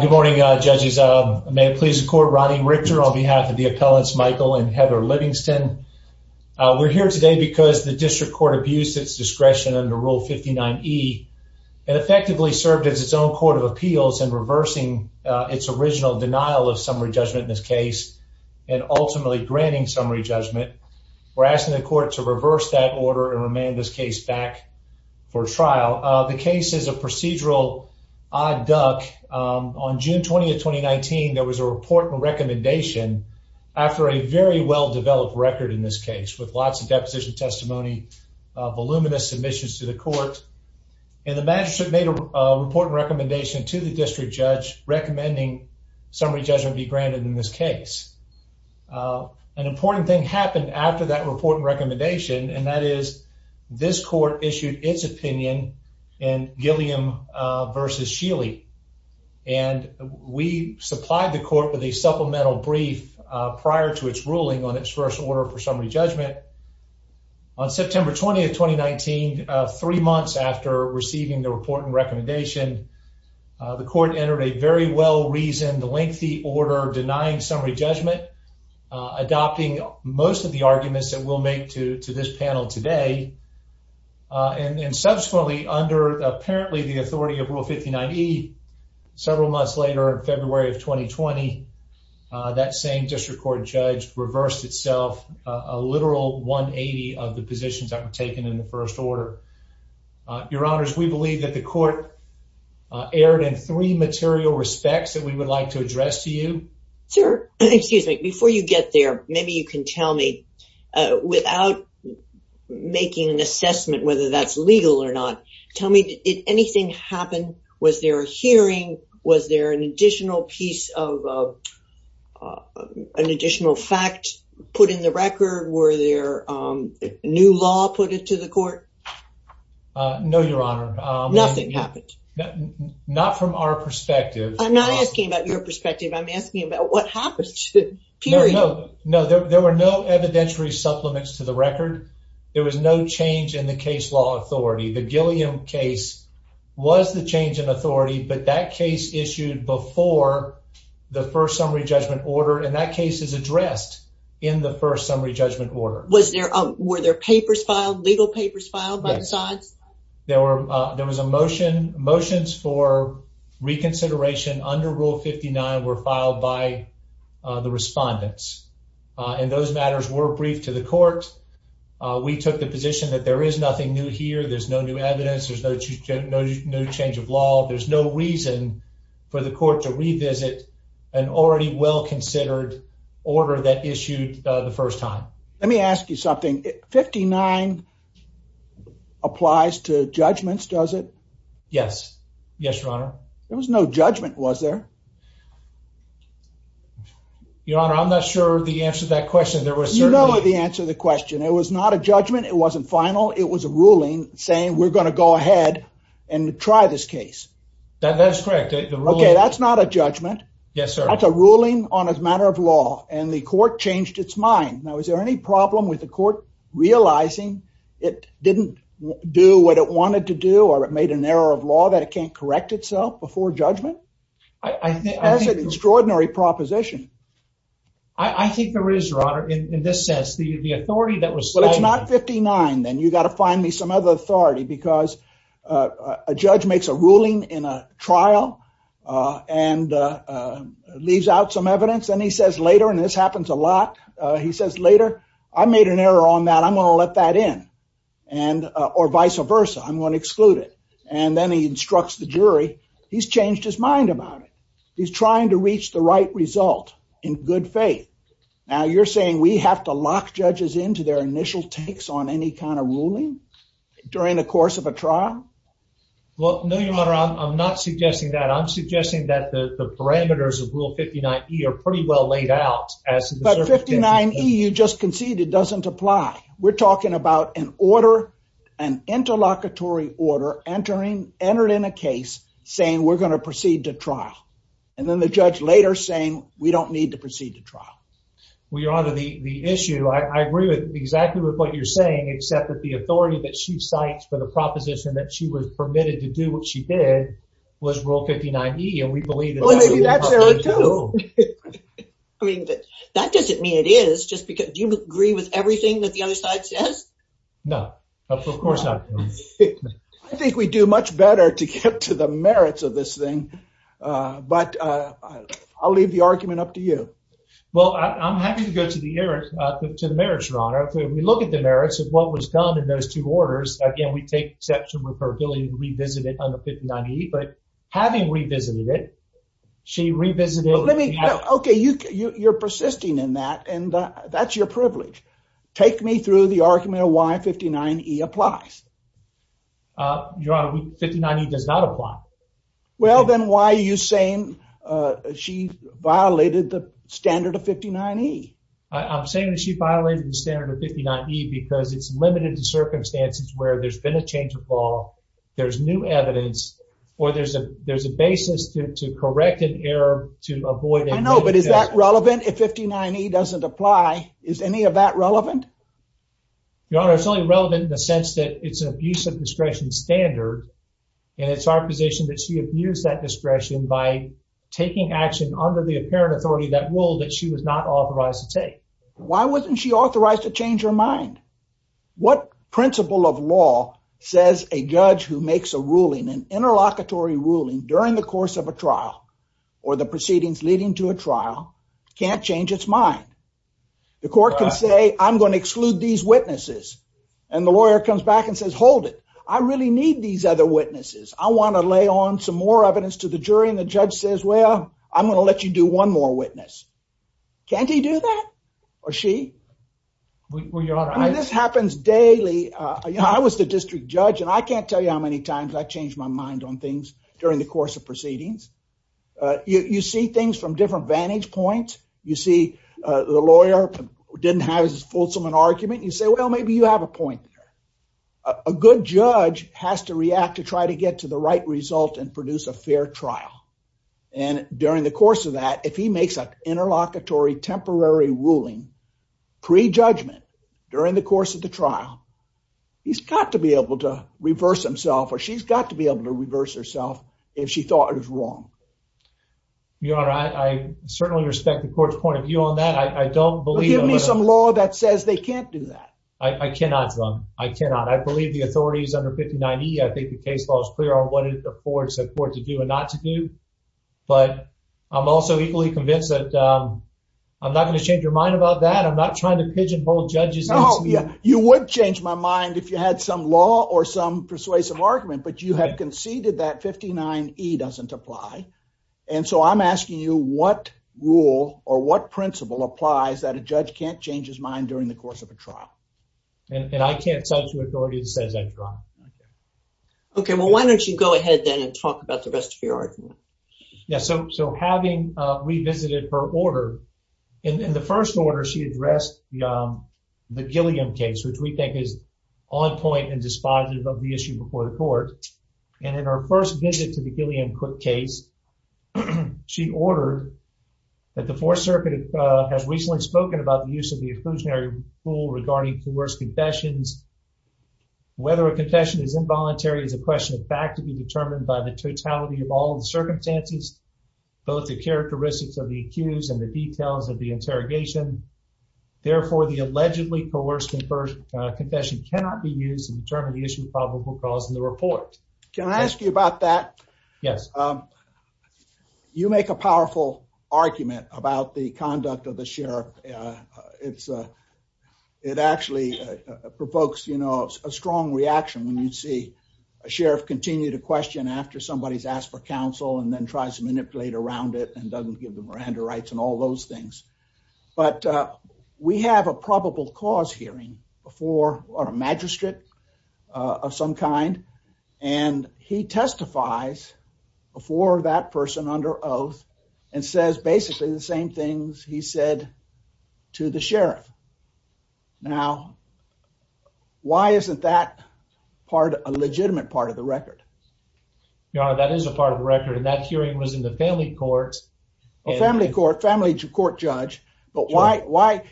Good morning, judges. May it please the court. Ronnie Richter on behalf of the appellants Michael and Heather Livingston. We're here today because the district court abused its discretion under Rule 59 E and effectively served as its own court of appeals and reversing its original denial of summary judgment in this case and ultimately granting summary judgment. We're asking the court to reverse that order and remand this case back for trial. The case is a procedural odd duck. On June 20th, 2019, there was a report and recommendation after a very well developed record in this case with lots of deposition testimony, voluminous submissions to the court and the magistrate made a report and recommendation to the district judge recommending summary judgment be granted in this case. Uh, an important thing happened after that report and recommendation, and that is this court issued its opinion and Gilliam versus Sheely. And we supplied the court with a supplemental brief prior to its ruling on its first order for summary judgment. On September 20th, 2019, three months after receiving the report and recommendation, the court entered a very well reasoned, lengthy order denying summary judgment, adopting most of the arguments that will make to this panel today. Uh, and subsequently, under apparently the authority of Rule 59 E several months later in February of 2020, that same district court judge reversed itself. Ah, literal 1 80 of the positions that were taken in the first order. Your honors, we believe that the court aired in three material respects that we would like to address to you, sir. Excuse me. Before you get there, maybe you can tell me, uh, without making an assessment, whether that's legal or not. Tell me, did anything happen? Was there a hearing? Was there an additional piece of, uh, uh, an additional fact put in the record? Were there new law put it to the court? No, Your Honor. Nothing happened. Not from our perspective. I'm asking about what happens to period. No, there were no evidentiary supplements to the record. There was no change in the case law authority. The Gilliam case was the change in authority, but that case issued before the first summary judgment order, and that case is addressed in the first summary judgment order. Was there? Were there papers filed? Legal papers filed by the sides? There were. There was a motion motions for reconsideration under Rule 59 were filed by the respondents, and those matters were briefed to the court. We took the position that there is nothing new here. There's no new evidence. There's no, no, no change of law. There's no reason for the court to revisit an already well considered order that issued the first time. Let me ask you something. 59 applies to judgments, does it? Yes. Yes, Your Honor. There was no judgment. Was there? Your Honor, I'm not sure the answer to that question. There was no answer to the question. It was not a judgment. It wasn't final. It was a ruling saying we're gonna go ahead and try this case. That's correct. Okay, that's not a judgment. Yes, sir. That's a ruling on a matter of law, and the court changed its mind. Now, is there any problem with the court realizing it didn't do what it wanted to do, or it made an error of law that it can't correct itself before judgment? I think that's an extraordinary proposition. I think there is, Your Honor. In this sense, the authority that was signed... Well, it's not 59, then. You've got to find me some other authority, because a judge makes a ruling in a trial and leaves out some evidence, and he says later, and this happens a lot, he says later, I made an error on that. I'm gonna let that in, or vice versa. I'm gonna exclude it. And then he instructs the jury. He's changed his mind about it. He's trying to reach the right result in good faith. Now, you're saying we have to lock judges into their initial takes on any kind of ruling during the course of a trial? Well, no, Your Honor. I'm not suggesting that. I'm suggesting that the 59E you just conceded doesn't apply. We're talking about an order, an interlocutory order entered in a case saying we're gonna proceed to trial, and then the judge later saying we don't need to proceed to trial. Well, Your Honor, the issue... I agree exactly with what you're saying, except that the authority that she cites for the proposition that she was permitted to do what she did was Rule 59E, and we believe that that's true. I mean, that doesn't mean it is. Do you agree with everything that the other side says? No. Of course not. I think we do much better to get to the merits of this thing, but I'll leave the argument up to you. Well, I'm happy to go to the merits, Your Honor. If we look at the merits of what was done in those two orders, again, we take exception with her ability to revisit it on the 59E, but having revisited it, she revisited... Let me... Okay, you're persisting in that, and that's your privilege. Take me through the argument of why 59E applies. Your Honor, 59E does not apply. Well, then why are you saying she violated the standard of 59E? I'm saying that she violated the standard of 59E because it's limited to circumstances where there's been a change of law, there's new evidence, or there's a basis to correct an error to avoid... I know, but is that relevant? If 59E doesn't apply, is any of that relevant? Your Honor, it's only relevant in the sense that it's an abuse of discretion standard, and it's our position that she abused that discretion by taking action under the apparent authority of that rule that she was not authorized to take. Why wasn't she authorized to do that? Your Honor, 59E says a judge who makes a ruling, an interlocutory ruling during the course of a trial or the proceedings leading to a trial, can't change its mind. The court can say, I'm going to exclude these witnesses, and the lawyer comes back and says, hold it. I really need these other witnesses. I want to lay on some more evidence to the jury, and the judge says, well, I'm going to let you do one more witness. Can't he do that? Or she? Well, Your Honor, I... I can't tell you how many times I've changed my mind on things during the course of proceedings. You see things from different vantage points. You see the lawyer didn't have as fulsome an argument. You say, well, maybe you have a point there. A good judge has to react to try to get to the right result and produce a fair trial, and during the course of that, if he makes an interlocutory temporary ruling pre-judgment during the course of the trial, he's got to be able to reverse himself, or she's got to be able to reverse herself if she thought it was wrong. Your Honor, I certainly respect the court's point of view on that. I don't believe... Well, give me some law that says they can't do that. I cannot, Your Honor. I cannot. I believe the authority is under 59E. I think the case law is clear on what it affords the court to do and not to do, but I'm also equally convinced that I'm not going to change your mind about that. I'm not trying to pigeonhole judges into... You would change my mind if you had some law or some persuasive argument, but you have conceded that 59E doesn't apply, and so I'm asking you what rule or what principle applies that a judge can't change his mind during the course of a trial. And I can't set the authority that says that, Your Honor. Okay, well, why don't you go ahead then and talk about the rest of your argument? Yeah, so having revisited her order, in the first order, she addressed the Gilliam case, which we think is on point and dispositive of the issue before the court. And in her first visit to the Gilliam case, she ordered that the Fourth Circuit has recently spoken about the use of the exclusionary rule regarding coerced confessions. Whether a confession is involuntary is a question of fact to be determined by the totality of all the interrogation. Therefore, the allegedly coerced confession cannot be used to determine the issue of probable cause in the report. Can I ask you about that? Yes. You make a powerful argument about the conduct of the sheriff. It actually provokes a strong reaction when you see a sheriff continue to question after somebody's asked for counsel and then tries to manipulate around it and doesn't give Miranda rights and all those things. But we have a probable cause hearing before a magistrate of some kind, and he testifies before that person under oath and says basically the same things he said to the sheriff. Now, why isn't that a legitimate part of the record? Your Honor, that is a part of the record, and that hearing was in the family court. Family court, family court judge. But why?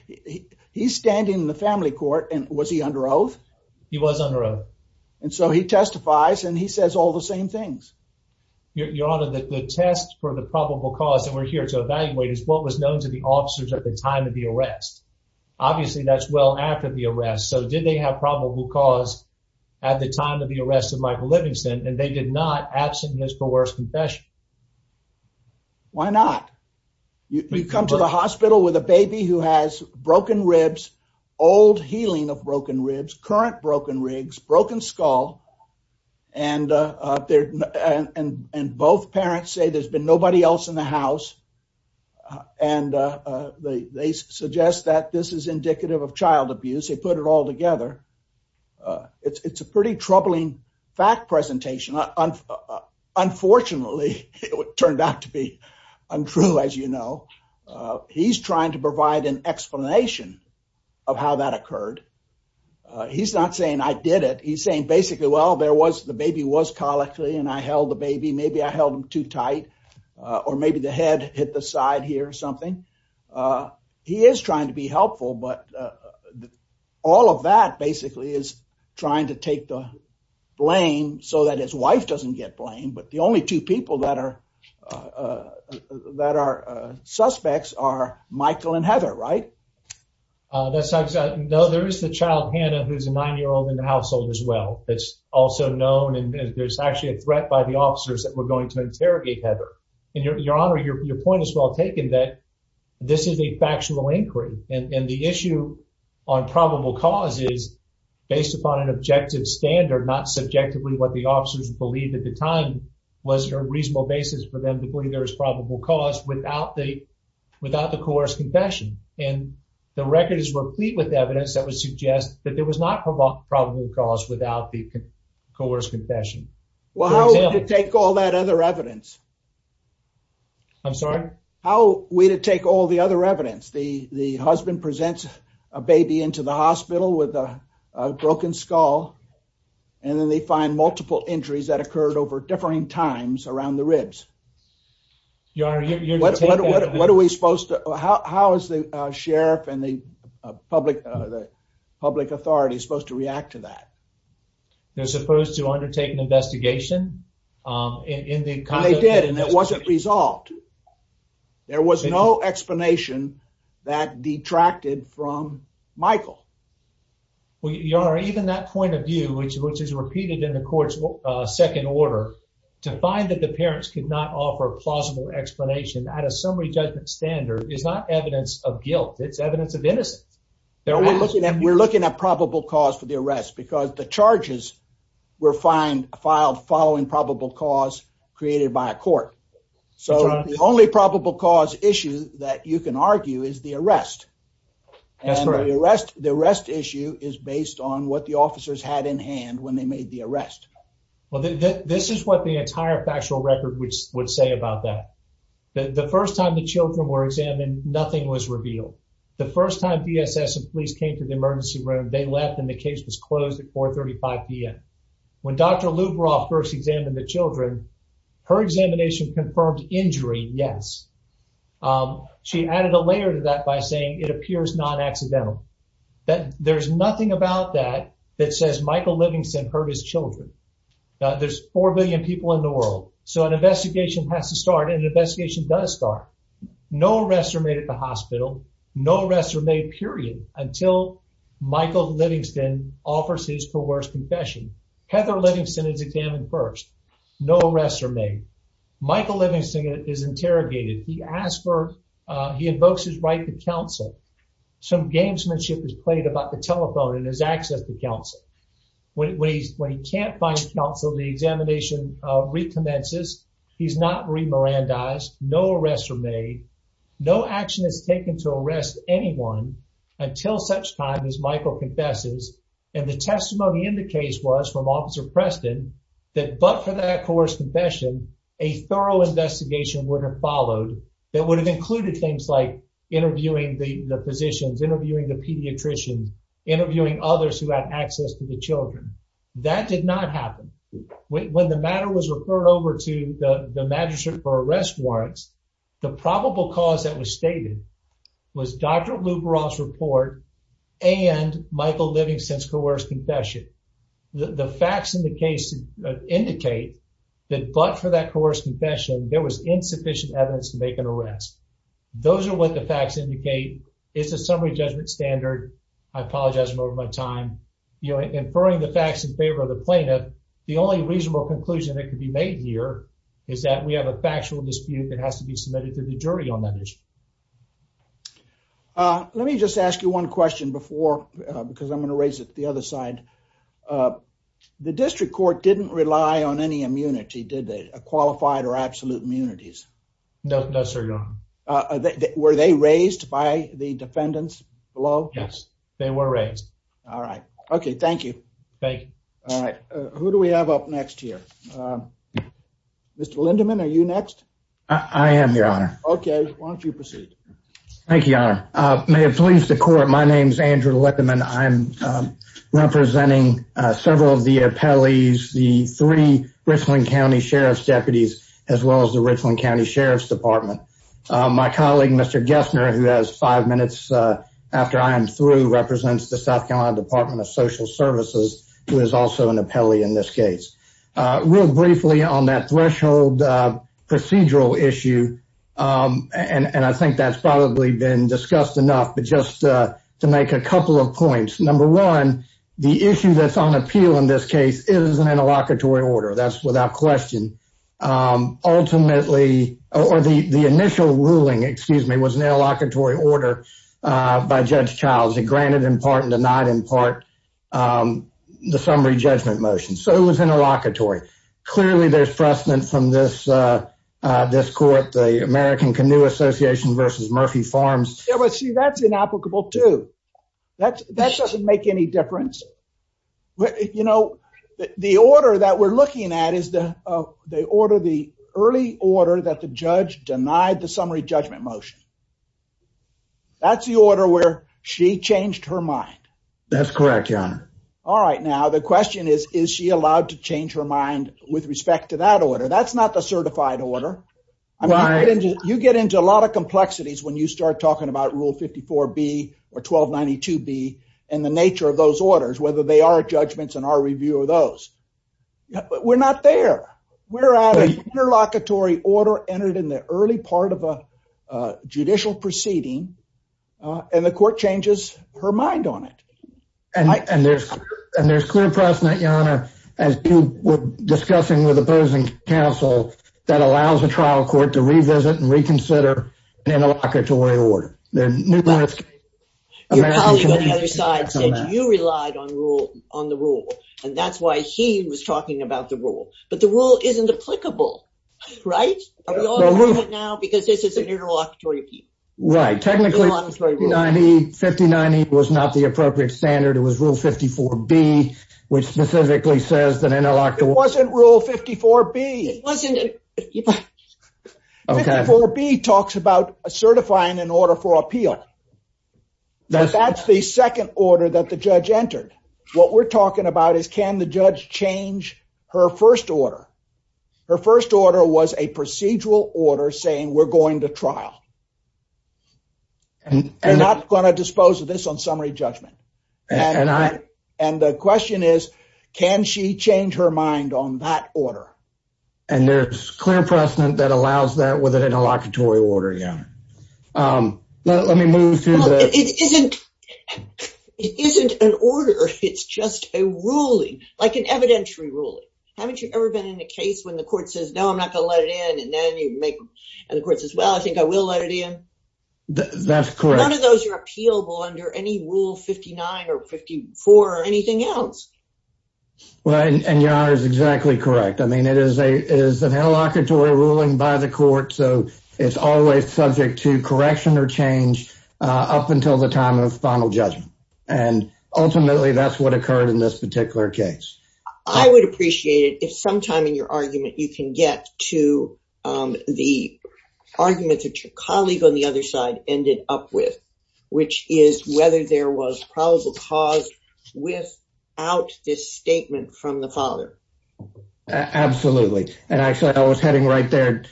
He's standing in the family court, and was he under oath? He was under oath. And so he testifies, and he says all the same things. Your Honor, the test for the probable cause that we're here to evaluate is what was known to the officers at the time of the arrest. Obviously, that's well after the arrest. So did they have probable cause at the time of the arrest of Michael Livingston, and they did not absent his bewares confession? Why not? You come to the hospital with a baby who has broken ribs, old healing of broken ribs, current broken rigs, broken skull, and both parents say there's been nobody else in the house, and they suggest that this is indicative of child abuse. They put it all together. It's a pretty troubling fact presentation. Unfortunately, it turned out to be untrue, as you know. He's trying to provide an explanation of how that occurred. He's not saying I did it. He's saying basically, well, there was, the baby was collected, and I held the baby. Maybe I held him too tight, or maybe the head hit the side here or something. He is trying to be helpful, but all of that basically is trying to take the blame so that his wife doesn't get blamed, but the only two people that are suspects are Michael and Heather, right? No, there is the child, Hannah, who's a nine-year-old in the household as well. It's also known, and there's actually a threat by the officers that we're going to interrogate Heather. Your Honor, your point is well taken that this is a factual inquiry, and the issue on probable cause is based upon an objective standard, not subjectively what the officers believed at the time was a reasonable basis for them to believe there was probable cause without the coerced confession, and the record is replete with evidence that would suggest that there was not probable cause without the coerced confession. Well, how are we to take all that other evidence? I'm sorry? How are we to take all the other evidence? The husband presents a baby into the hospital with a broken skull, and then they find multiple injuries that occurred over differing times around the ribs. Your Honor, you're... What are we supposed to... How is the sheriff and the public authorities supposed to react to that? They're supposed to undertake an investigation. They did, and it wasn't resolved. There was no explanation that detracted from Michael. Your Honor, even that point of view, which is repeated in the court's second order, to find that the parents could not offer a plausible explanation at a summary judgment standard is not evidence of guilt. It's evidence of innocence. We're looking at probable cause for created by a court, so the only probable cause issue that you can argue is the arrest, and the arrest issue is based on what the officers had in hand when they made the arrest. Well, this is what the entire factual record would say about that. The first time the children were examined, nothing was revealed. The first time BSS and police came to the emergency room, they left, and the case was closed at 4.35 p.m. When Dr. Lubaroff first examined the children, her examination confirmed injury, yes. She added a layer to that by saying, it appears non-accidental. There's nothing about that that says Michael Livingston hurt his children. There's four billion people in the world, so an investigation has to start, and an investigation does start. No arrests are made at the hospital. No arrests are made, period, until Michael Livingston offers his coerced confession. Heather Livingston is examined first. No arrests are made. Michael Livingston is interrogated. He invokes his right to counsel. Some gamesmanship is played about the telephone and his access to counsel. When he can't find counsel, the examination recommences. He's not remirandized. No arrests are made. No action is taken to arrest anyone until such time as Michael confesses, and the testimony in the case was from that coerced confession, a thorough investigation would have followed that would have included things like interviewing the physicians, interviewing the pediatricians, interviewing others who had access to the children. That did not happen. When the matter was referred over to the magistrate for arrest warrants, the probable cause that was stated was Dr. Lubaroff's report and Michael Livingston's coerced confession. The facts in the case indicate that but for that coerced confession, there was insufficient evidence to make an arrest. Those are what the facts indicate. It's a summary judgment standard. I apologize for my time. You know, inferring the facts in favor of the plaintiff, the only reasonable conclusion that could be made here is that we have a factual dispute that has to be submitted to the jury on that issue. Uh, let me just ask you one question before, because I'm going to raise it the other side. The district court didn't rely on any immunity, did they? Qualified or absolute immunities? No, sir. Were they raised by the defendants below? Yes, they were raised. All right. Okay, thank you. Thank you. All right. Who do we have up next here? Mr. Lindeman, are you next? I am, your honor. Okay, why don't you proceed? Thank you, your honor. May it please the court, my name is Andrew Lindeman. I'm representing several of the appellees, the three Richland County Sheriff's deputies, as well as the Richland County Sheriff's Department. My colleague, Mr. Gessner, who has five minutes after I am through, represents the South Carolina Department of Social Security. I'm going to ask you a couple of questions on the procedural issue. And I think that's probably been discussed enough, but just to make a couple of points. Number one, the issue that's on appeal in this case is an interlocutory order. That's without question. Ultimately, or the initial ruling, excuse me, was an interlocutory order by Judge Childs. It granted in part and denied in part the summary judgment motion. So it was interlocutory. Clearly, there's precedent from this court, the American Canoe Association versus Murphy Farms. Yeah, but see, that's inapplicable, too. That doesn't make any difference. You know, the order that we're looking at is the early order that the judge denied the summary judgment motion. That's the order where she changed her mind. That's correct, Your Honor. All right. Now, the question is, is she allowed to change her mind with respect to that order? That's not the certified order. I mean, you get into a lot of complexities when you start talking about Rule 54B or 1292B and the nature of those orders, whether they are judgments in our review of those. We're not there. We're at an interlocutory order entered in the early part of a judicial proceeding, and the court changes her mind on it. And there's clear precedent, Your Honor, as you were discussing with opposing counsel that allows a trial court to revisit and reconsider an interlocutory order. Your colleague on the other side said you relied on the rule, and that's why he was talking about the rule. But the rule isn't applicable, right? Because this is an interlocutory appeal. Right. Technically, 59E was not the appropriate standard. It was Rule 54B, which specifically says that interlocutory... It wasn't Rule 54B. 54B talks about certifying an order for appeal. That's the second order that the judge entered. What we're talking about is can the judge change her first order? Her first order was a procedural order saying we're going to trial. We're not going to dispose of this on summary judgment. And the question is, can she change her mind on that order? And there's clear precedent that allows that with an interlocutory order, Your Honor. Well, let me move through the... It isn't an order. It's just a ruling, like an evidentiary ruling. Haven't you ever been in a case when the court says, no, I'm not going to let it in, and then you make... And the court says, well, I think I will let it in. That's correct. None of those are appealable under any Rule 59 or 54 or anything else. Well, and Your Honor is exactly correct. I mean, it is an interlocutory ruling by the court, so it's always subject to correction or change up until the time of final judgment. And ultimately, that's what occurred in this particular case. I would appreciate it if sometime in your argument, you can get to the argument that your colleague on the other side ended up with, which is whether there was probable cause without this statement from the father. Absolutely. And actually, I was heading right there.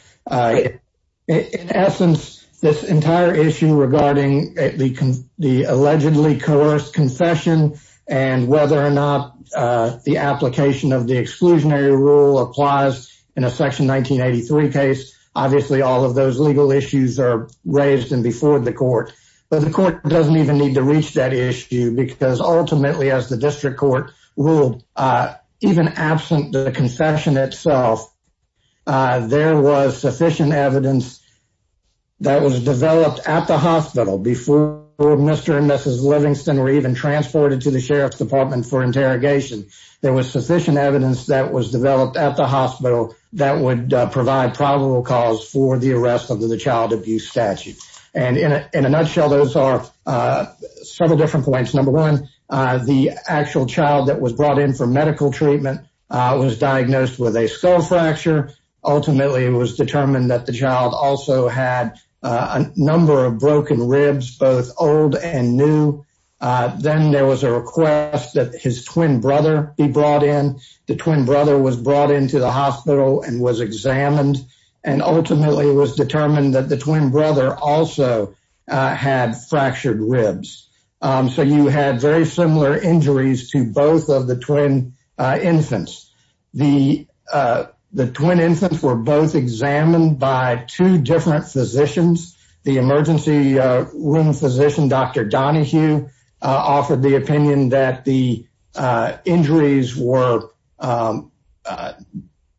In essence, this entire issue regarding the allegedly coerced confession and whether or not the application of the exclusionary rule applies in a Section 1983 case, obviously, all of those legal issues are raised and before the court. But the court doesn't even need to reach that issue because ultimately, as the district court ruled, even absent the there was sufficient evidence that was developed at the hospital before Mr. and Mrs. Livingston were even transported to the Sheriff's Department for interrogation. There was sufficient evidence that was developed at the hospital that would provide probable cause for the arrest under the child abuse statute. And in a nutshell, those are several different points. Number one, the actual child that was brought in for medical treatment was diagnosed with a skull fracture. Ultimately, it was determined that the child also had a number of broken ribs, both old and new. Then there was a request that his twin brother be brought in. The twin brother was brought into the hospital and was examined. And ultimately, it was determined that the twin brother also had fractured ribs. So you had very similar injuries to both of the twin infants. The twin infants were both examined by two different physicians. The emergency room physician, Dr. Donahue, offered the opinion that the injuries were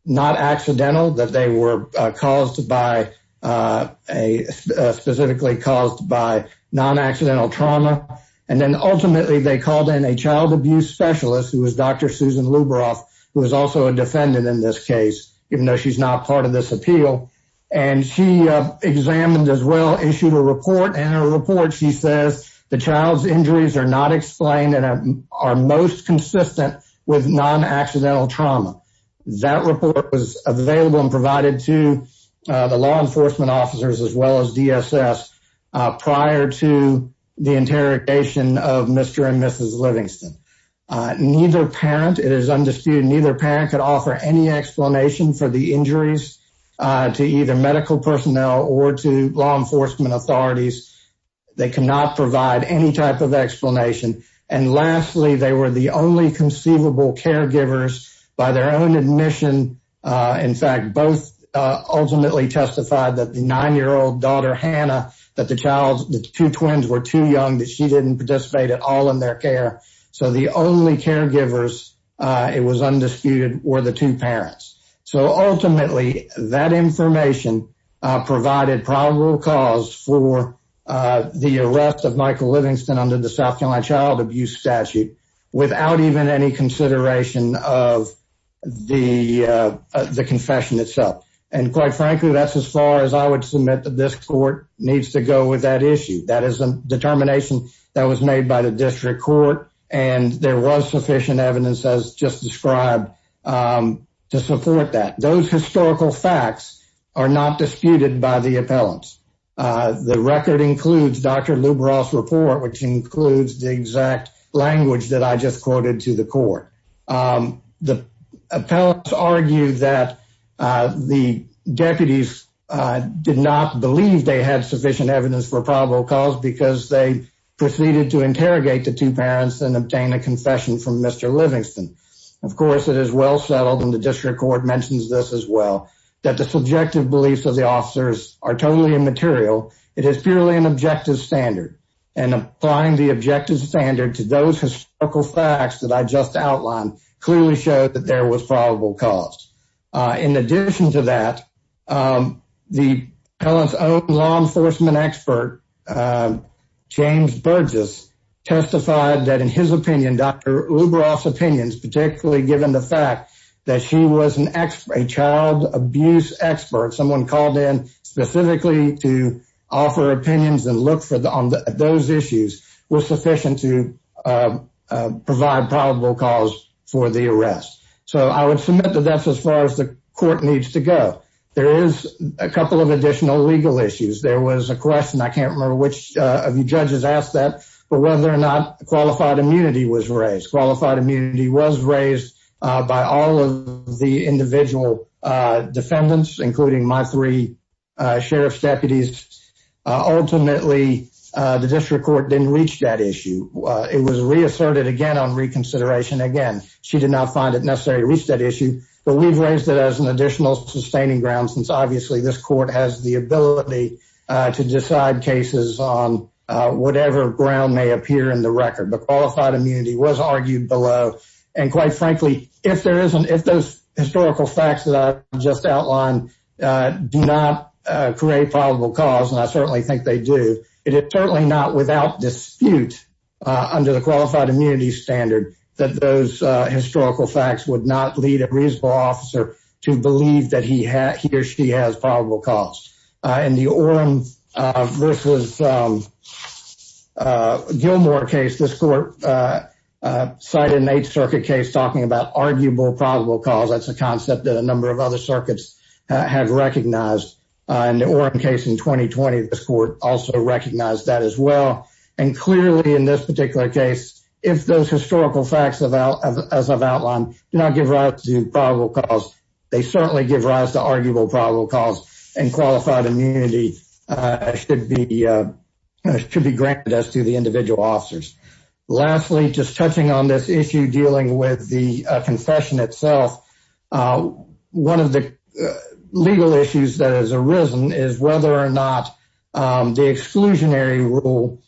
not accidental, that they were caused by a specifically caused by non-accidental trauma. And then ultimately, they called in a child abuse specialist who was Dr. Susan Luberoff, who was also a defendant in this case, even though she's not part of this appeal. And she examined as well issued a report and a report. She says the child's injuries are not explained and are most consistent with non-accidental trauma. That report was available and provided to the law enforcement officers as well as DSS prior to the interrogation of Mr. and Mrs. Livingston. Neither parent, it is undisputed, neither parent could offer any explanation for the injuries to either medical personnel or to law enforcement authorities. They cannot provide any type of explanation. And lastly, they were the only conceivable caregivers by their own admission. In fact, both ultimately testified that the nine-year-old daughter, Hannah, that the child's two twins were too young that she didn't participate at all in their care. So the only caregivers, it was undisputed, were the two parents. So ultimately, that information provided probable cause for the arrest of Michael Livingston under the South Carolina Child Abuse Statute without even any consideration of the confession itself. And quite frankly, that's as far as I would submit that this court needs to go with that issue. That is a determination that was made by the district court. And there was sufficient evidence as just described to support that. Those historical facts are not disputed by the appellants. The record includes Dr. Lubros' report, which includes the exact language that I just quoted to the court. The appellants argued that the deputies did not believe they had sufficient evidence for probable cause because they proceeded to interrogate the two parents and obtain a confession from Mr. Livingston. Of course, it is well settled, and the district court mentions this well, that the subjective beliefs of the officers are totally immaterial. It is purely an objective standard. And applying the objective standard to those historical facts that I just outlined clearly showed that there was probable cause. In addition to that, the appellant's own law enforcement expert, James Burgess, testified that in his opinion, Dr. Lubros' opinions, particularly given the fact that she was a child abuse expert, someone called in specifically to offer opinions and look on those issues, was sufficient to provide probable cause for the arrest. So I would submit that that's as far as the court needs to go. There is a couple of additional legal issues. There was a question, I can't remember which of you judges asked that, but whether or not qualified immunity was raised by all of the individual defendants, including my three sheriff's deputies. Ultimately, the district court didn't reach that issue. It was reasserted again on reconsideration. Again, she did not find it necessary to reach that issue, but we've raised it as an additional sustaining ground since obviously this court has the ability to decide cases on whatever ground may appear in the record. But qualified immunity was argued below. And quite frankly, if those historical facts that I just outlined do not create probable cause, and I certainly think they do, it is certainly not without dispute under the qualified immunity standard that those historical facts would not lead a reasonable officer to believe that he or she has probable cause. In the Orem versus Gilmore case, this court cited an Eighth Circuit case talking about arguable probable cause. That's a concept that a number of other circuits have recognized. In the Orem case in 2020, this court also recognized that as well. And clearly in this particular case, if those historical facts, as I've outlined, do not give rise to probable cause, they certainly give rise to arguable probable cause, and qualified immunity should be granted as to the individual officers. Lastly, just touching on this issue dealing with the confession itself, one of the legal issues that has arisen is whether or not the exclusionary rule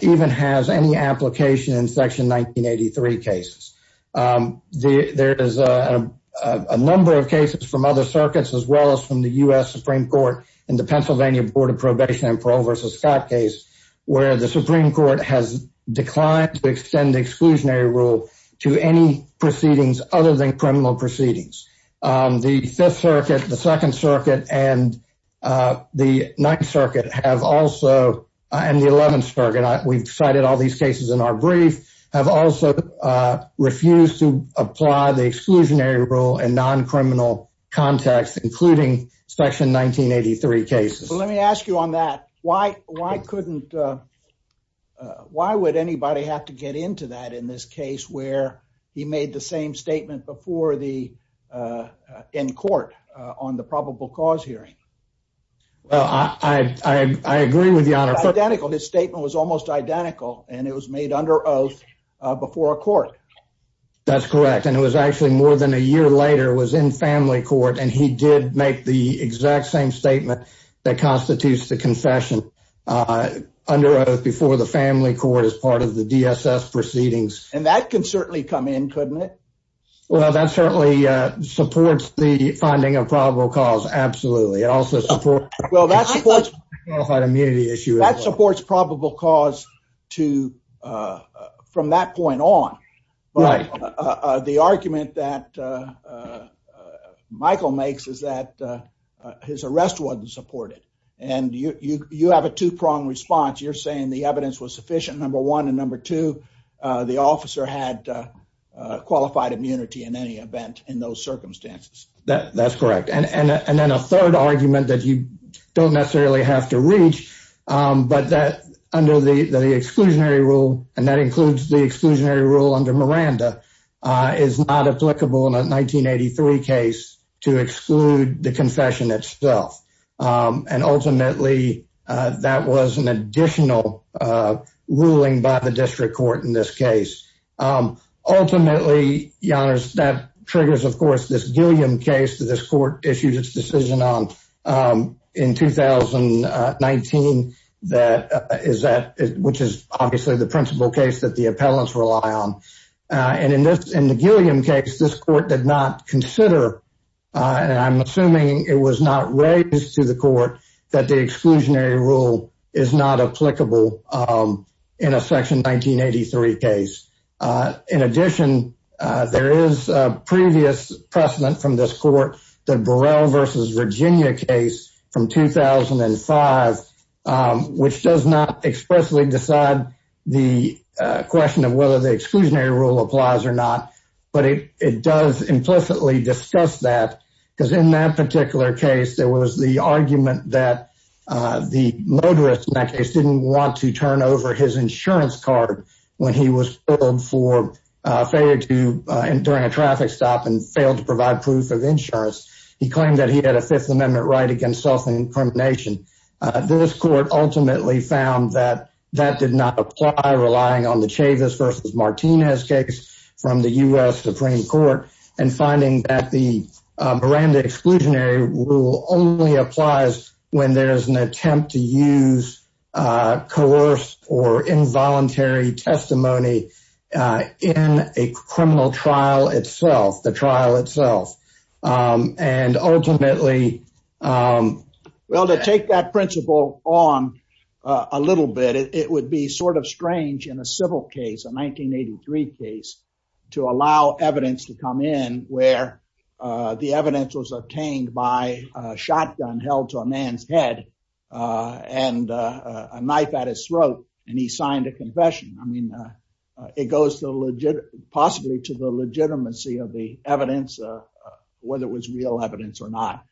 even has any application in Section 1983 cases. There is a number of cases from other circuits, as well as from the U.S. Supreme Court in the Pennsylvania Board of Probation and Parole versus Scott case, where the Supreme Court has declined to extend the exclusionary rule to any proceedings other than criminal proceedings. The Fifth Circuit, the Second Circuit, and the Ninth Circuit have also, and the Eleventh Circuit, we've cited all these cases in our brief, have also refused to apply the exclusionary rule in non-criminal context, including Section 1983 cases. Let me ask you on that. Why would anybody have to get into that in this case where he made the same statement in court on the probable cause hearing? Well, I agree with you, Honor. Identical. His statement was almost identical, and it was made under oath before a court. That's correct, and it was actually more than a year later was in family court, and he did make the exact same statement that constitutes the confession under oath before the family court as part of the DSS proceedings. And that can certainly come in, couldn't it? Well, that certainly supports the finding of probable cause, absolutely. It also supports... Well, that supports probable cause from that point on, but the argument that Michael makes is that his arrest wasn't supported, and you have a two-pronged response. You're saying the evidence was sufficient, number one, and number two, the officer had qualified immunity in any event in those circumstances. That's correct, and then a third argument that you don't necessarily have to reach, but that under the exclusionary rule, and that includes the exclusionary rule under Miranda, is not applicable in a 1983 case to ultimately that was an additional ruling by the district court in this case. Ultimately, Your Honors, that triggers, of course, this Gilliam case that this court issued its decision on in 2019, which is obviously the principal case that the appellants rely on. And in the Gilliam case, this court did not consider, and I'm assuming it was not raised to the court, that the exclusionary rule is not applicable in a section 1983 case. In addition, there is a previous precedent from this court, the Burrell versus Virginia case from 2005, which does not expressly decide the question of whether the exclusionary rule applies or not, but it does implicitly discuss that, because in that particular case, there was the argument that the motorist in that case didn't want to turn over his insurance card when he was pulled for failure to, during a traffic stop and failed to provide proof of insurance. He claimed that he had a Fifth Amendment right against self-incrimination. This court ultimately found that that did not apply, relying on the Chavis versus Martinez case from the U.S. Supreme Court, and finding that the Miranda exclusionary rule only applies when there's an attempt to use coerced or involuntary testimony in a criminal trial itself, the trial itself. And ultimately, well, to take that principle on a little bit, it would be sort of strange in a civil case, a 1983 case, to allow evidence to come in where the evidence was obtained by a shotgun held to a man's head and a knife at his throat, and he signed a confession. I mean, it goes to the legit, possibly to the legitimacy of the evidence, whether it was real evidence or not.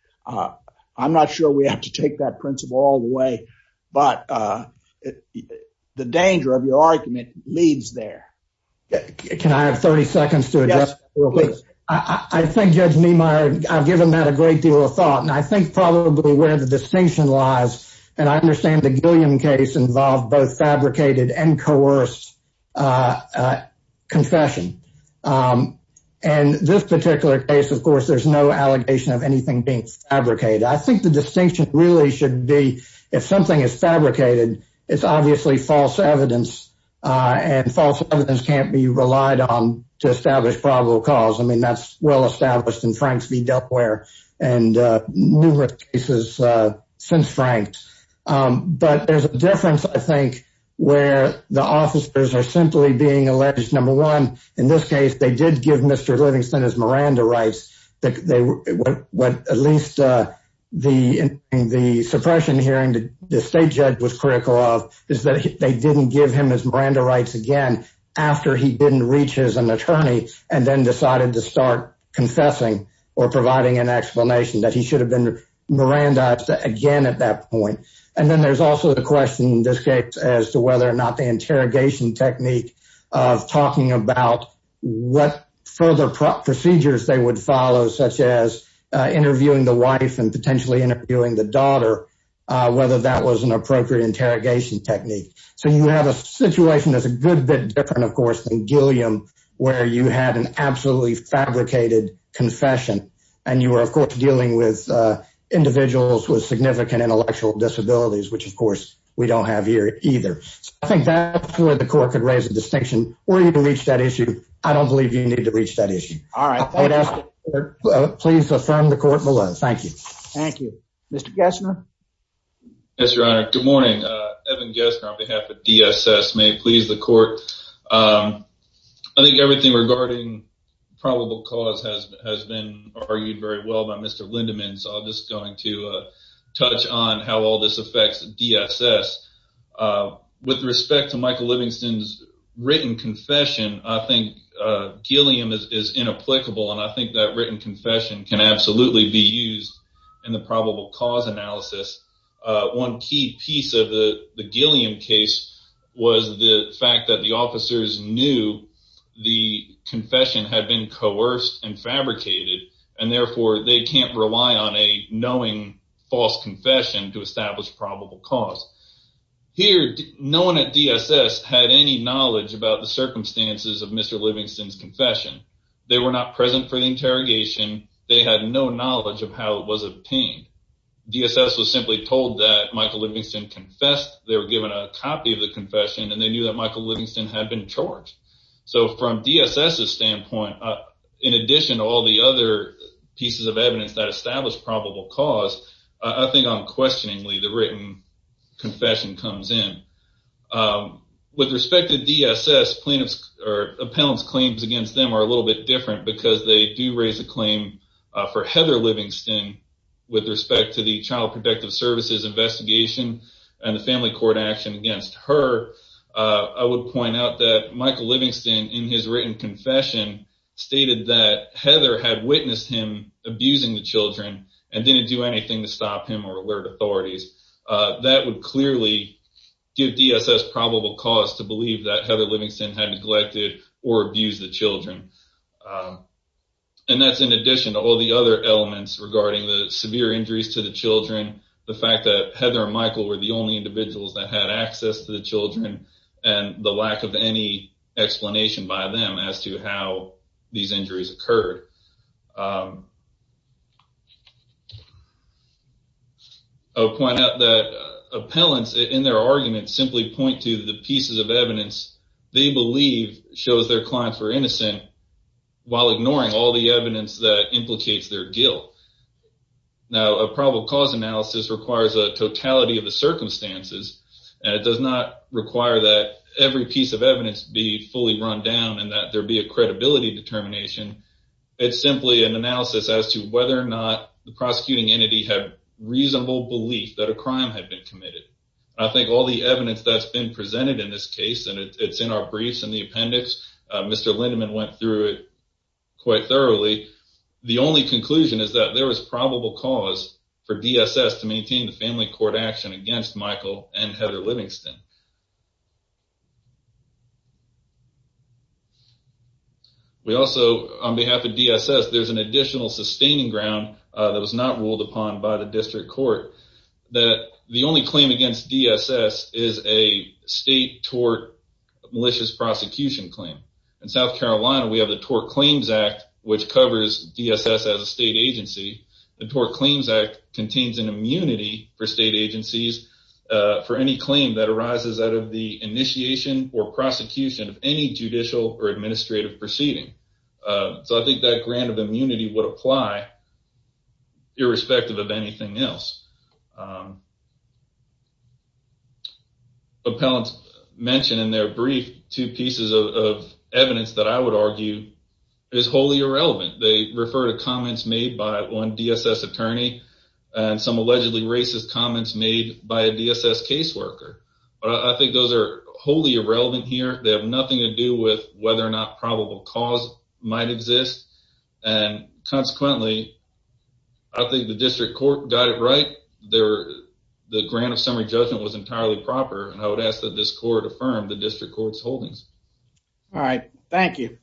I'm not sure we have to take that principle all the way, but the danger of your argument leads there. Can I have 30 seconds to adjust? I think Judge Niemeyer, I've given that a great deal of thought, and I think probably where the distinction lies, and I understand the and coerced confession. And this particular case, of course, there's no allegation of anything being fabricated. I think the distinction really should be if something is fabricated, it's obviously false evidence, and false evidence can't be relied on to establish probable cause. I mean, that's well established in Frank's v. Duckware and numerous cases since Frank's. But there's a where the officers are simply being alleged. Number one, in this case, they did give Mr. Livingston his Miranda rights. What at least the suppression hearing the state judge was critical of is that they didn't give him his Miranda rights again after he didn't reach his an attorney and then decided to start confessing or providing an explanation that he should have been Mirandized again at that point. And then there's also the question in this case as to whether or not the interrogation technique of talking about what further procedures they would follow, such as interviewing the wife and potentially interviewing the daughter, whether that was an appropriate interrogation technique. So you have a situation that's a good bit different, of course, than Gilliam, where you had an absolutely fabricated confession. And you were, of course, dealing with significant intellectual disabilities, which, of course, we don't have here either. I think that's where the court could raise a distinction or even reach that issue. I don't believe you need to reach that issue. All right. Please affirm the court below. Thank you. Thank you, Mr. Gessner. Yes, Your Honor. Good morning. Evan Gessner on behalf of DSS may please the court. I think everything regarding probable cause has been argued very well by Mr. Lindemann. So I'm going to touch on how all this affects DSS. With respect to Michael Livingston's written confession, I think Gilliam is inapplicable. And I think that written confession can absolutely be used in the probable cause analysis. One key piece of the Gilliam case was the fact that the officers knew the confession had been coerced and fabricated, and therefore they can't rely on a knowing false confession to establish probable cause. Here, no one at DSS had any knowledge about the circumstances of Mr. Livingston's confession. They were not present for the interrogation. They had no knowledge of how it was obtained. DSS was simply told that Michael Livingston confessed. They were given a copy of the confession, and they knew that Michael Livingston had been charged. So from DSS's standpoint, in addition to all the other pieces of evidence that establish probable cause, I think unquestioningly the written confession comes in. With respect to DSS, plaintiff's or appellant's claims against them are a little bit different because they do raise a claim for Heather Livingston with respect to the Child Protective Services investigation and the family court action against her. I would point out that Michael Livingston in his written confession stated that Heather had witnessed him abusing the children and didn't do anything to stop him or alert authorities. That would clearly give DSS probable cause to believe that Heather Livingston had severe injuries to the children, the fact that Heather and Michael were the only individuals that had access to the children, and the lack of any explanation by them as to how these injuries occurred. I would point out that appellants in their arguments simply point to the pieces of evidence they believe shows their clients were innocent while ignoring all the evidence. Now, a probable cause analysis requires a totality of the circumstances, and it does not require that every piece of evidence be fully run down and that there be a credibility determination. It's simply an analysis as to whether or not the prosecuting entity had reasonable belief that a crime had been committed. I think all the evidence that's been presented in this case, and it's in our briefs and the appendix, Mr. Lindeman went through quite thoroughly. The only conclusion is that there was probable cause for DSS to maintain the family court action against Michael and Heather Livingston. We also, on behalf of DSS, there's an additional sustaining ground that was not ruled upon by the district court that the only claim against DSS is a state tort malicious prosecution claim. In South Carolina, we have the Tort Claims Act, which covers DSS as a state agency. The Tort Claims Act contains an immunity for state agencies for any claim that arises out of the initiation or prosecution of any judicial or administrative proceeding. So, I think that grant of immunity would apply irrespective of anything else. As the appellants mentioned in their brief, two pieces of evidence that I would argue is wholly irrelevant. They refer to comments made by one DSS attorney and some allegedly racist comments made by a DSS caseworker. I think those are wholly irrelevant here. They have nothing to do with whether or not probable cause might exist. Consequently, I think the district court got it there. The grant of summary judgment was entirely proper, and I would ask that this court affirm the district court's holdings. All right, thank you.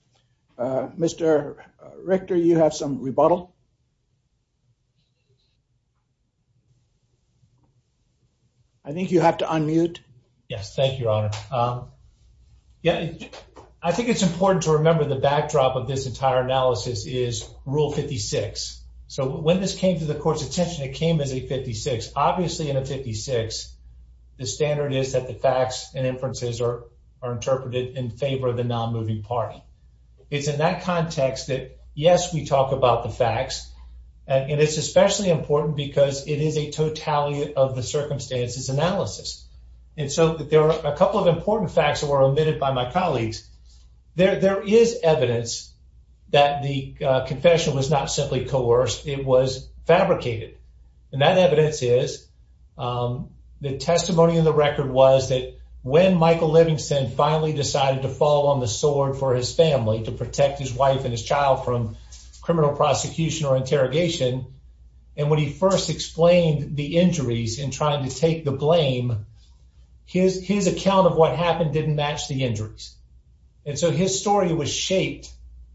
Mr. Richter, you have some rebuttal? I think you have to unmute. Yes, thank you, Your Honor. Yeah, I think it's important to remember the backdrop of this entire analysis is Rule 56. So, when this came to the court's attention, it came as a 56. Obviously, in a 56, the standard is that the facts and inferences are interpreted in favor of the non-moving party. It's in that context that, yes, we talk about the facts, and it's especially important because it is a totality of the circumstances analysis. And so, there are a couple of important facts that were omitted by my colleagues. There is evidence that the confession was not simply coerced. It was fabricated, and that evidence is the testimony of the record was that when Michael Livingston finally decided to fall on the sword for his family to protect his wife and his child from criminal prosecution or interrogation, and when he first explained the injuries in trying to take the blame, his account of what happened didn't match the injuries. And so, his story was shaped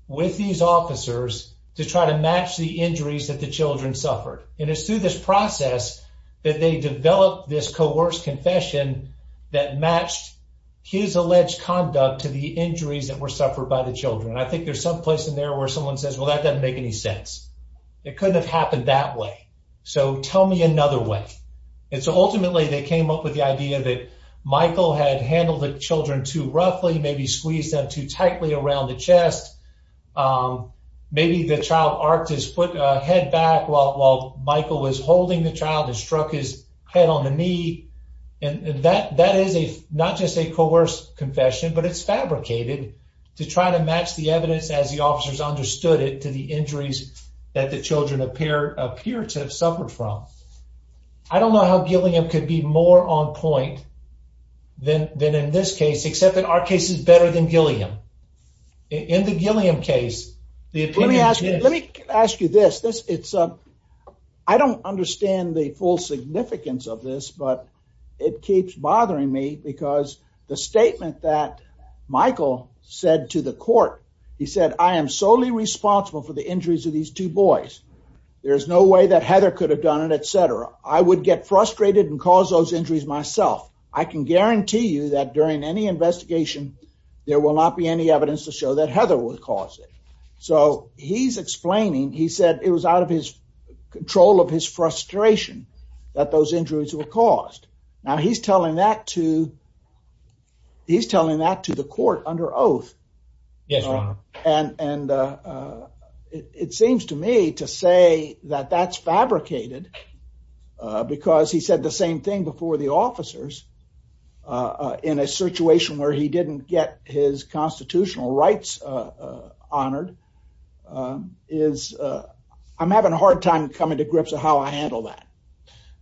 with these officers to try to match the injuries that the children suffered. And it's through this process that they developed this coerced confession that matched his alleged conduct to the injuries that were suffered by the children. I think there's some place in there where someone says, well, that doesn't make any sense. It couldn't have happened that way. So, tell me another way. And so, ultimately, they came up with the idea that Michael had handled the children too roughly, maybe squeezed them too tightly around the chest. Maybe the child arced his head back while Michael was holding the child and struck his head on the knee. And that is not just a coerced confession, but it's fabricated to try to match the evidence as the officers understood it to the injuries that the children appear to have suffered from. I don't know how Gilliam could be more on point than in this case, except that our case is better than Gilliam. In the Gilliam case, the opinion is... Let me ask you this. I don't understand the full significance of this, but it keeps bothering me because the statement that Michael said to the court, he said, I am solely responsible for the injuries of these two boys. There's no way that Heather could have done it, etc. I would get frustrated and cause those injuries myself. I can guarantee you that during any investigation, there will not be any evidence to show that Heather would cause it. So, he's explaining, he said it was out of his control of his frustration that those injuries were caused. Now, he's telling that to the court under oath. And it seems to me to say that that's fabricated because he said the same thing before the officers in a situation where he didn't get his constitutional rights honored. I'm having a hard time coming to grips with how I handle that.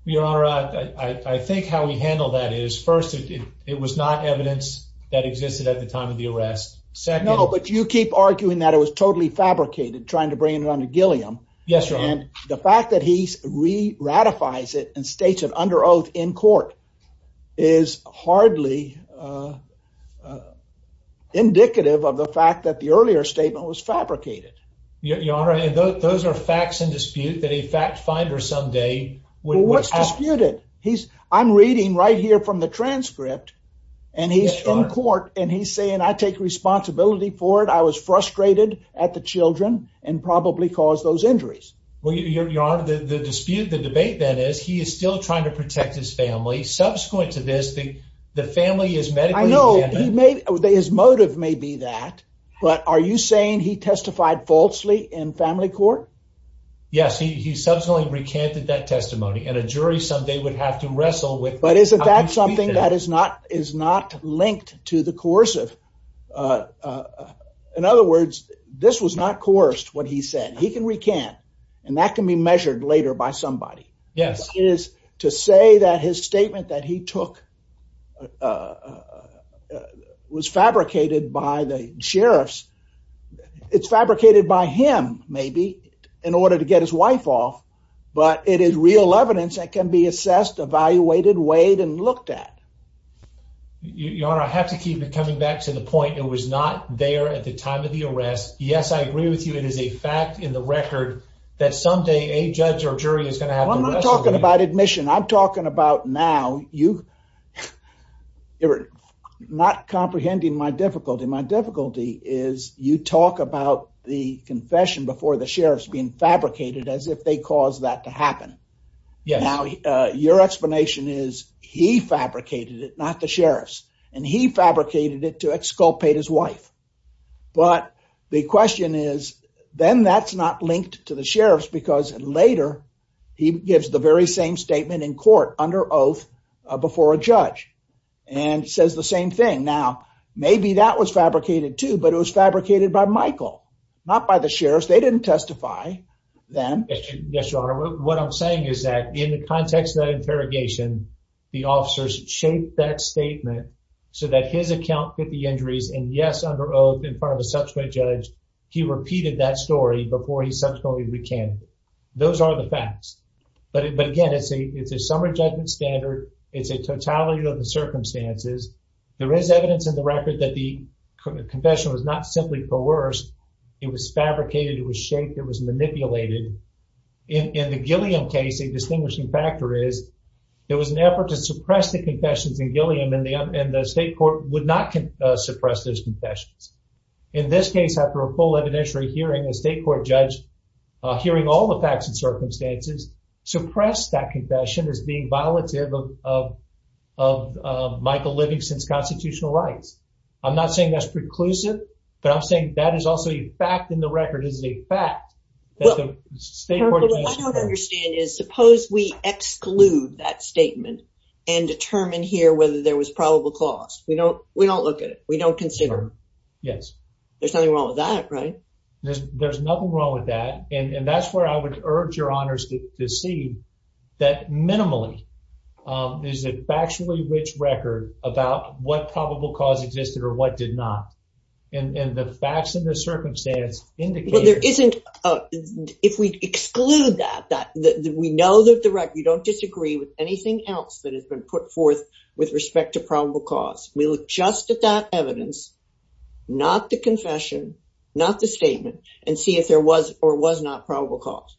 Your Honor, I think how we handle that is, first, it was not evidence that existed at the time of the arrest. Second... No, but you keep arguing that it was totally fabricated, trying to bring it under Gilliam. Yes, Your Honor. And the fact that he re-ratifies it and states it under oath in court is hardly indicative of the fact that the earlier statement was fabricated. Your Honor, those are facts in dispute that a fact finder someday... Well, what's disputed? I'm reading right here from the transcript and he's in court and he's saying, I take responsibility for it. I was frustrated at the children and probably caused those injuries. Well, Your Honor, the dispute, the debate then is he is still trying to protect his family. Subsequent to this, the family is medically... I know, his motive may be that, but are you saying he testified falsely in family court? Yes, he subsequently recanted that testimony and a jury someday would have to wrestle with... But isn't that something that is not linked to the coercive? In other words, this was not coerced, what he said. He can recant and that can be measured later by somebody. Yes. It is to say that his statement that he took was fabricated by the sheriffs. It's fabricated by him maybe in order to get his wife off, but it is real evidence that can be assessed, evaluated, weighed, and looked at. Your Honor, I have to keep it coming back to the point. It was not there at the time of the arrest. Yes, I agree with you. It is a fact in the record that someday a judge or jury is going to have... I'm talking about now. You're not comprehending my difficulty. My difficulty is you talk about the confession before the sheriff's being fabricated as if they caused that to happen. Now, your explanation is he fabricated it, not the sheriffs, and he fabricated it to exculpate his wife. But the question is, then that's not linked to the sheriffs because later he gives very same statement in court under oath before a judge and says the same thing. Now, maybe that was fabricated too, but it was fabricated by Michael, not by the sheriffs. They didn't testify then. Yes, your Honor. What I'm saying is that in the context of that interrogation, the officers shaped that statement so that his account fit the injuries and yes, under oath, in front of a subsequent judge, he repeated that story before he subsequently recanted it. Those are the facts. But again, it's a summary judgment standard. It's a totality of the circumstances. There is evidence in the record that the confession was not simply coerced. It was fabricated. It was shaped. It was manipulated. In the Gilliam case, a distinguishing factor is there was an effort to suppress the confessions in Gilliam and the state court would not suppress those confessions. In this case, after a full evidentiary hearing, a state court judge hearing all the facts and circumstances suppressed that confession as being violative of Michael Livingston's constitutional rights. I'm not saying that's preclusive, but I'm saying that is also a fact in the record. It is a fact. What I don't understand is suppose we exclude that statement and determine here whether there was probable cause. We don't look at it. We don't consider yes. There's nothing wrong with that, right? There's nothing wrong with that. And that's where I would urge your honors to see that minimally is a factually rich record about what probable cause existed or what did not. And the facts and the circumstance indicate... Well, there isn't... If we exclude that, we know that the record, you don't disagree with anything else that has been put forth with respect to probable cause. We look just at that evidence not the confession, not the statement, and see if there was or was not probable cause.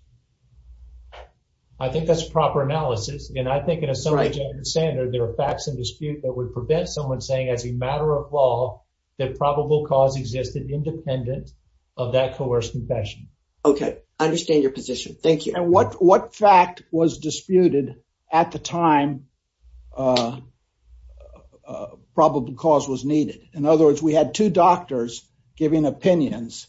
I think that's proper analysis. And I think in a subjective standard, there are facts in dispute that would prevent someone saying as a matter of law that probable cause existed independent of that coerced confession. Okay. I understand your position. Thank you. And what fact was disputed at the time that probable cause was needed? In other words, we had two doctors giving opinions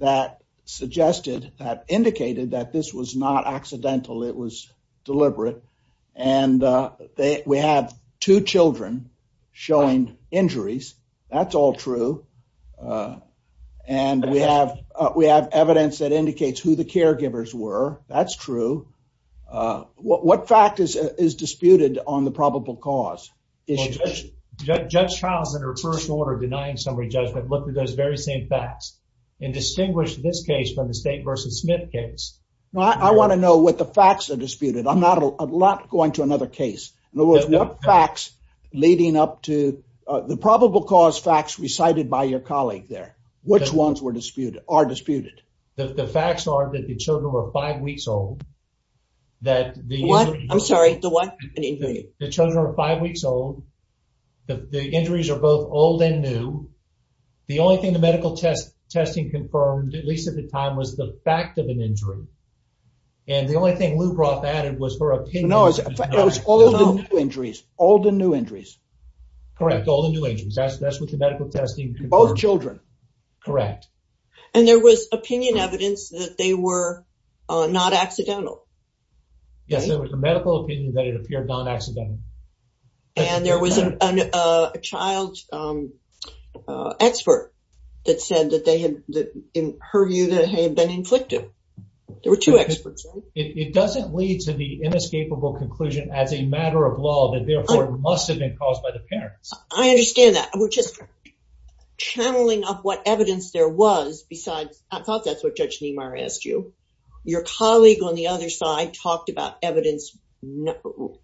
that suggested, that indicated that this was not accidental. It was deliberate. And we have two children showing injuries. That's all true. And we have evidence that indicates who the probable cause is. Judge Childs, in her first order of denying summary judgment, looked at those very same facts and distinguished this case from the State versus Smith case. I want to know what the facts are disputed. I'm not going to another case. In other words, what facts leading up to the probable cause facts recited by your colleague there, which ones are disputed? The facts are that the children were five weeks old. What? I'm sorry. The what? The children are five weeks old. The injuries are both old and new. The only thing the medical testing confirmed, at least at the time, was the fact of an injury. And the only thing Lou Brough added was her opinion. No, it was all the new injuries. All the new injuries. Correct. All the new injuries. That's what the medical testing confirmed. Both children. Correct. And there was opinion evidence that they were not accidental. Yes, there was a medical opinion that it appeared non-accidental. And there was a child expert that said that they had, in her view, that they had been inflicted. There were two experts. It doesn't lead to the inescapable conclusion as a matter of law that must have been caused by the parents. I understand that. We're just channeling up what evidence there was. Besides, I thought that's what Judge Niemeyer asked you. Your colleague on the other side talked about evidence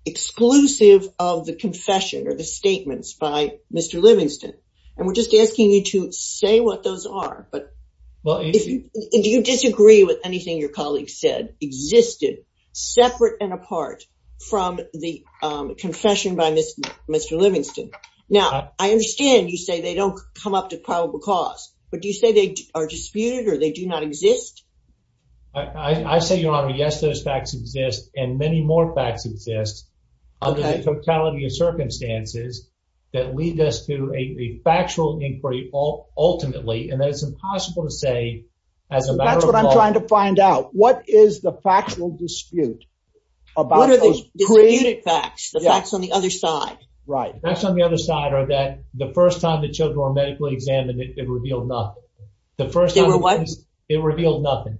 exclusive of the confession or the statements by Mr. Livingston. And we're just asking you to say what those are. But do you disagree with anything your colleague said existed separate and apart from the confession by Mr. Livingston? Now, I understand you say they don't come up to probable cause. But do you say they are disputed or they do not exist? I say, Your Honor, yes, those facts exist. And many more facts exist under the totality of circumstances that lead us to a factual inquiry ultimately. And that is impossible to say as a matter of law. That's what I'm trying to find out. What is the factual dispute? What are those disputed facts? The facts on the other side? Right. The facts on the other side are that the first time the children were medically examined, it revealed nothing. The first time they were what? It revealed nothing.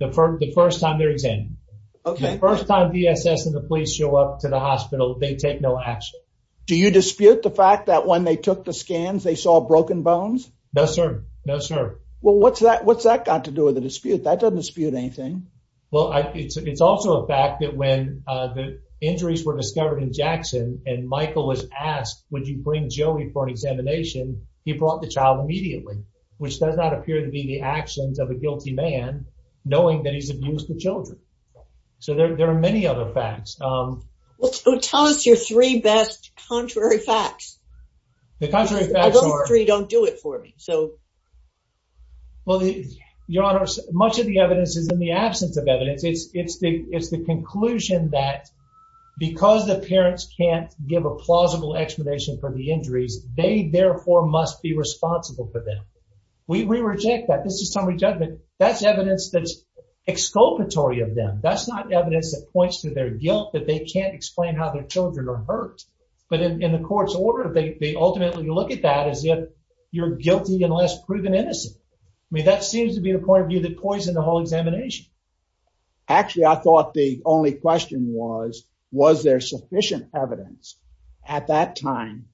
The first time they're examined. Okay. The first time DSS and the police show up to the hospital, they take no action. Do you dispute the fact that when they took the scans, they saw broken bones? No, sir. No, sir. Well, what's that? What's that got to do with the dispute? That doesn't dispute anything. Well, it's also a fact that when the injuries were discovered in Jackson, and Michael was asked, would you bring Joey for an examination? He brought the child immediately, which does not appear to be the actions of a guilty man, knowing that he's abused the children. So there are many other facts. Well, tell us your three best contrary facts. Those three don't do it for me. Well, your honor, much of the evidence is in the absence of evidence. It's the conclusion that because the parents can't give a plausible explanation for the injuries, they therefore must be responsible for them. We reject that. This is summary judgment. That's evidence that's that's not evidence that points to their guilt, that they can't explain how their children are hurt. But in the court's order, they ultimately look at that as if you're guilty unless proven innocent. I mean, that seems to be the point of view that poisoned the whole examination. Actually, I thought the only question was, was there sufficient evidence at that time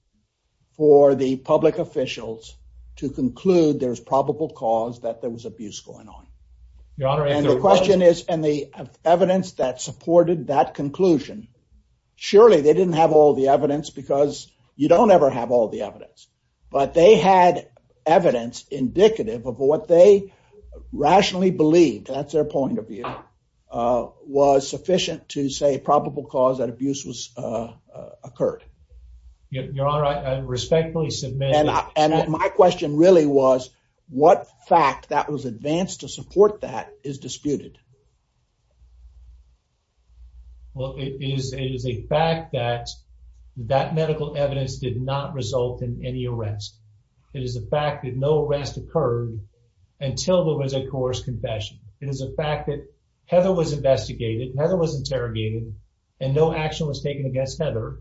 for the public officials to conclude there's probable cause that there was abuse going on? Your honor, and the question is, and the evidence that supported that conclusion, surely they didn't have all the evidence because you don't ever have all the evidence, but they had evidence indicative of what they rationally believed. That's their point of view, was sufficient to say probable cause that abuse was occurred. Your honor, I respectfully submit. And my question really was, what fact that was advanced to support that is disputed? Well, it is a fact that that medical evidence did not result in any arrest. It is a fact that no arrest occurred until there was a coerced confession. It is a fact that Heather was investigated, Heather was interrogated, and no action was taken against Heather.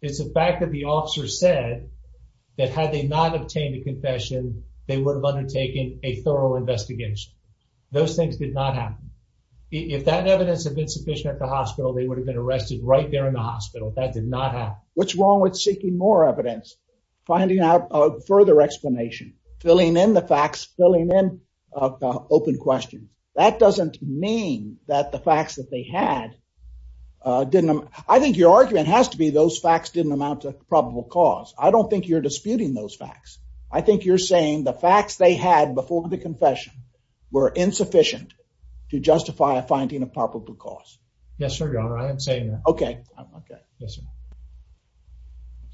It's a fact that the officer said that had they not obtained a confession, they would have undertaken a thorough investigation. Those things did not happen. If that evidence had been sufficient at the hospital, they would have been arrested right there in the hospital. That did not happen. What's wrong with seeking more evidence, finding out a further explanation, filling in the facts, filling in open questions. That doesn't mean that the facts that they had didn't... I think your argument has to be those facts didn't amount to probable cause. I don't think you're disputing those facts. I think you're saying the facts they had before the confession were insufficient to justify a finding of probable cause. Yes, sir, your honor. I am saying that. Okay.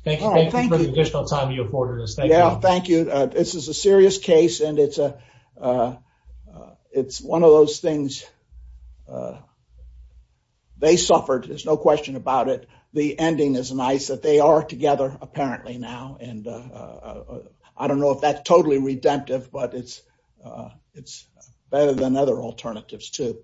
Thank you for the additional time you afforded us. Thank you. Yeah, thank you. This is a serious case and it's one of those things there's no question about it. The ending is nice that they are together apparently now. I don't know if that's totally redemptive, but it's better than other alternatives too.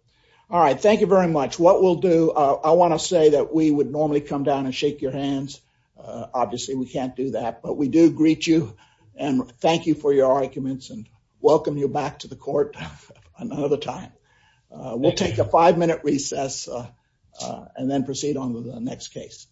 All right. Thank you very much. What we'll do, I want to say that we would normally come down and shake your hands. Obviously, we can't do that, but we do greet you and thank you for your arguments and welcome you back to the court another time. We'll take a five minute recess. And then proceed on to the next case.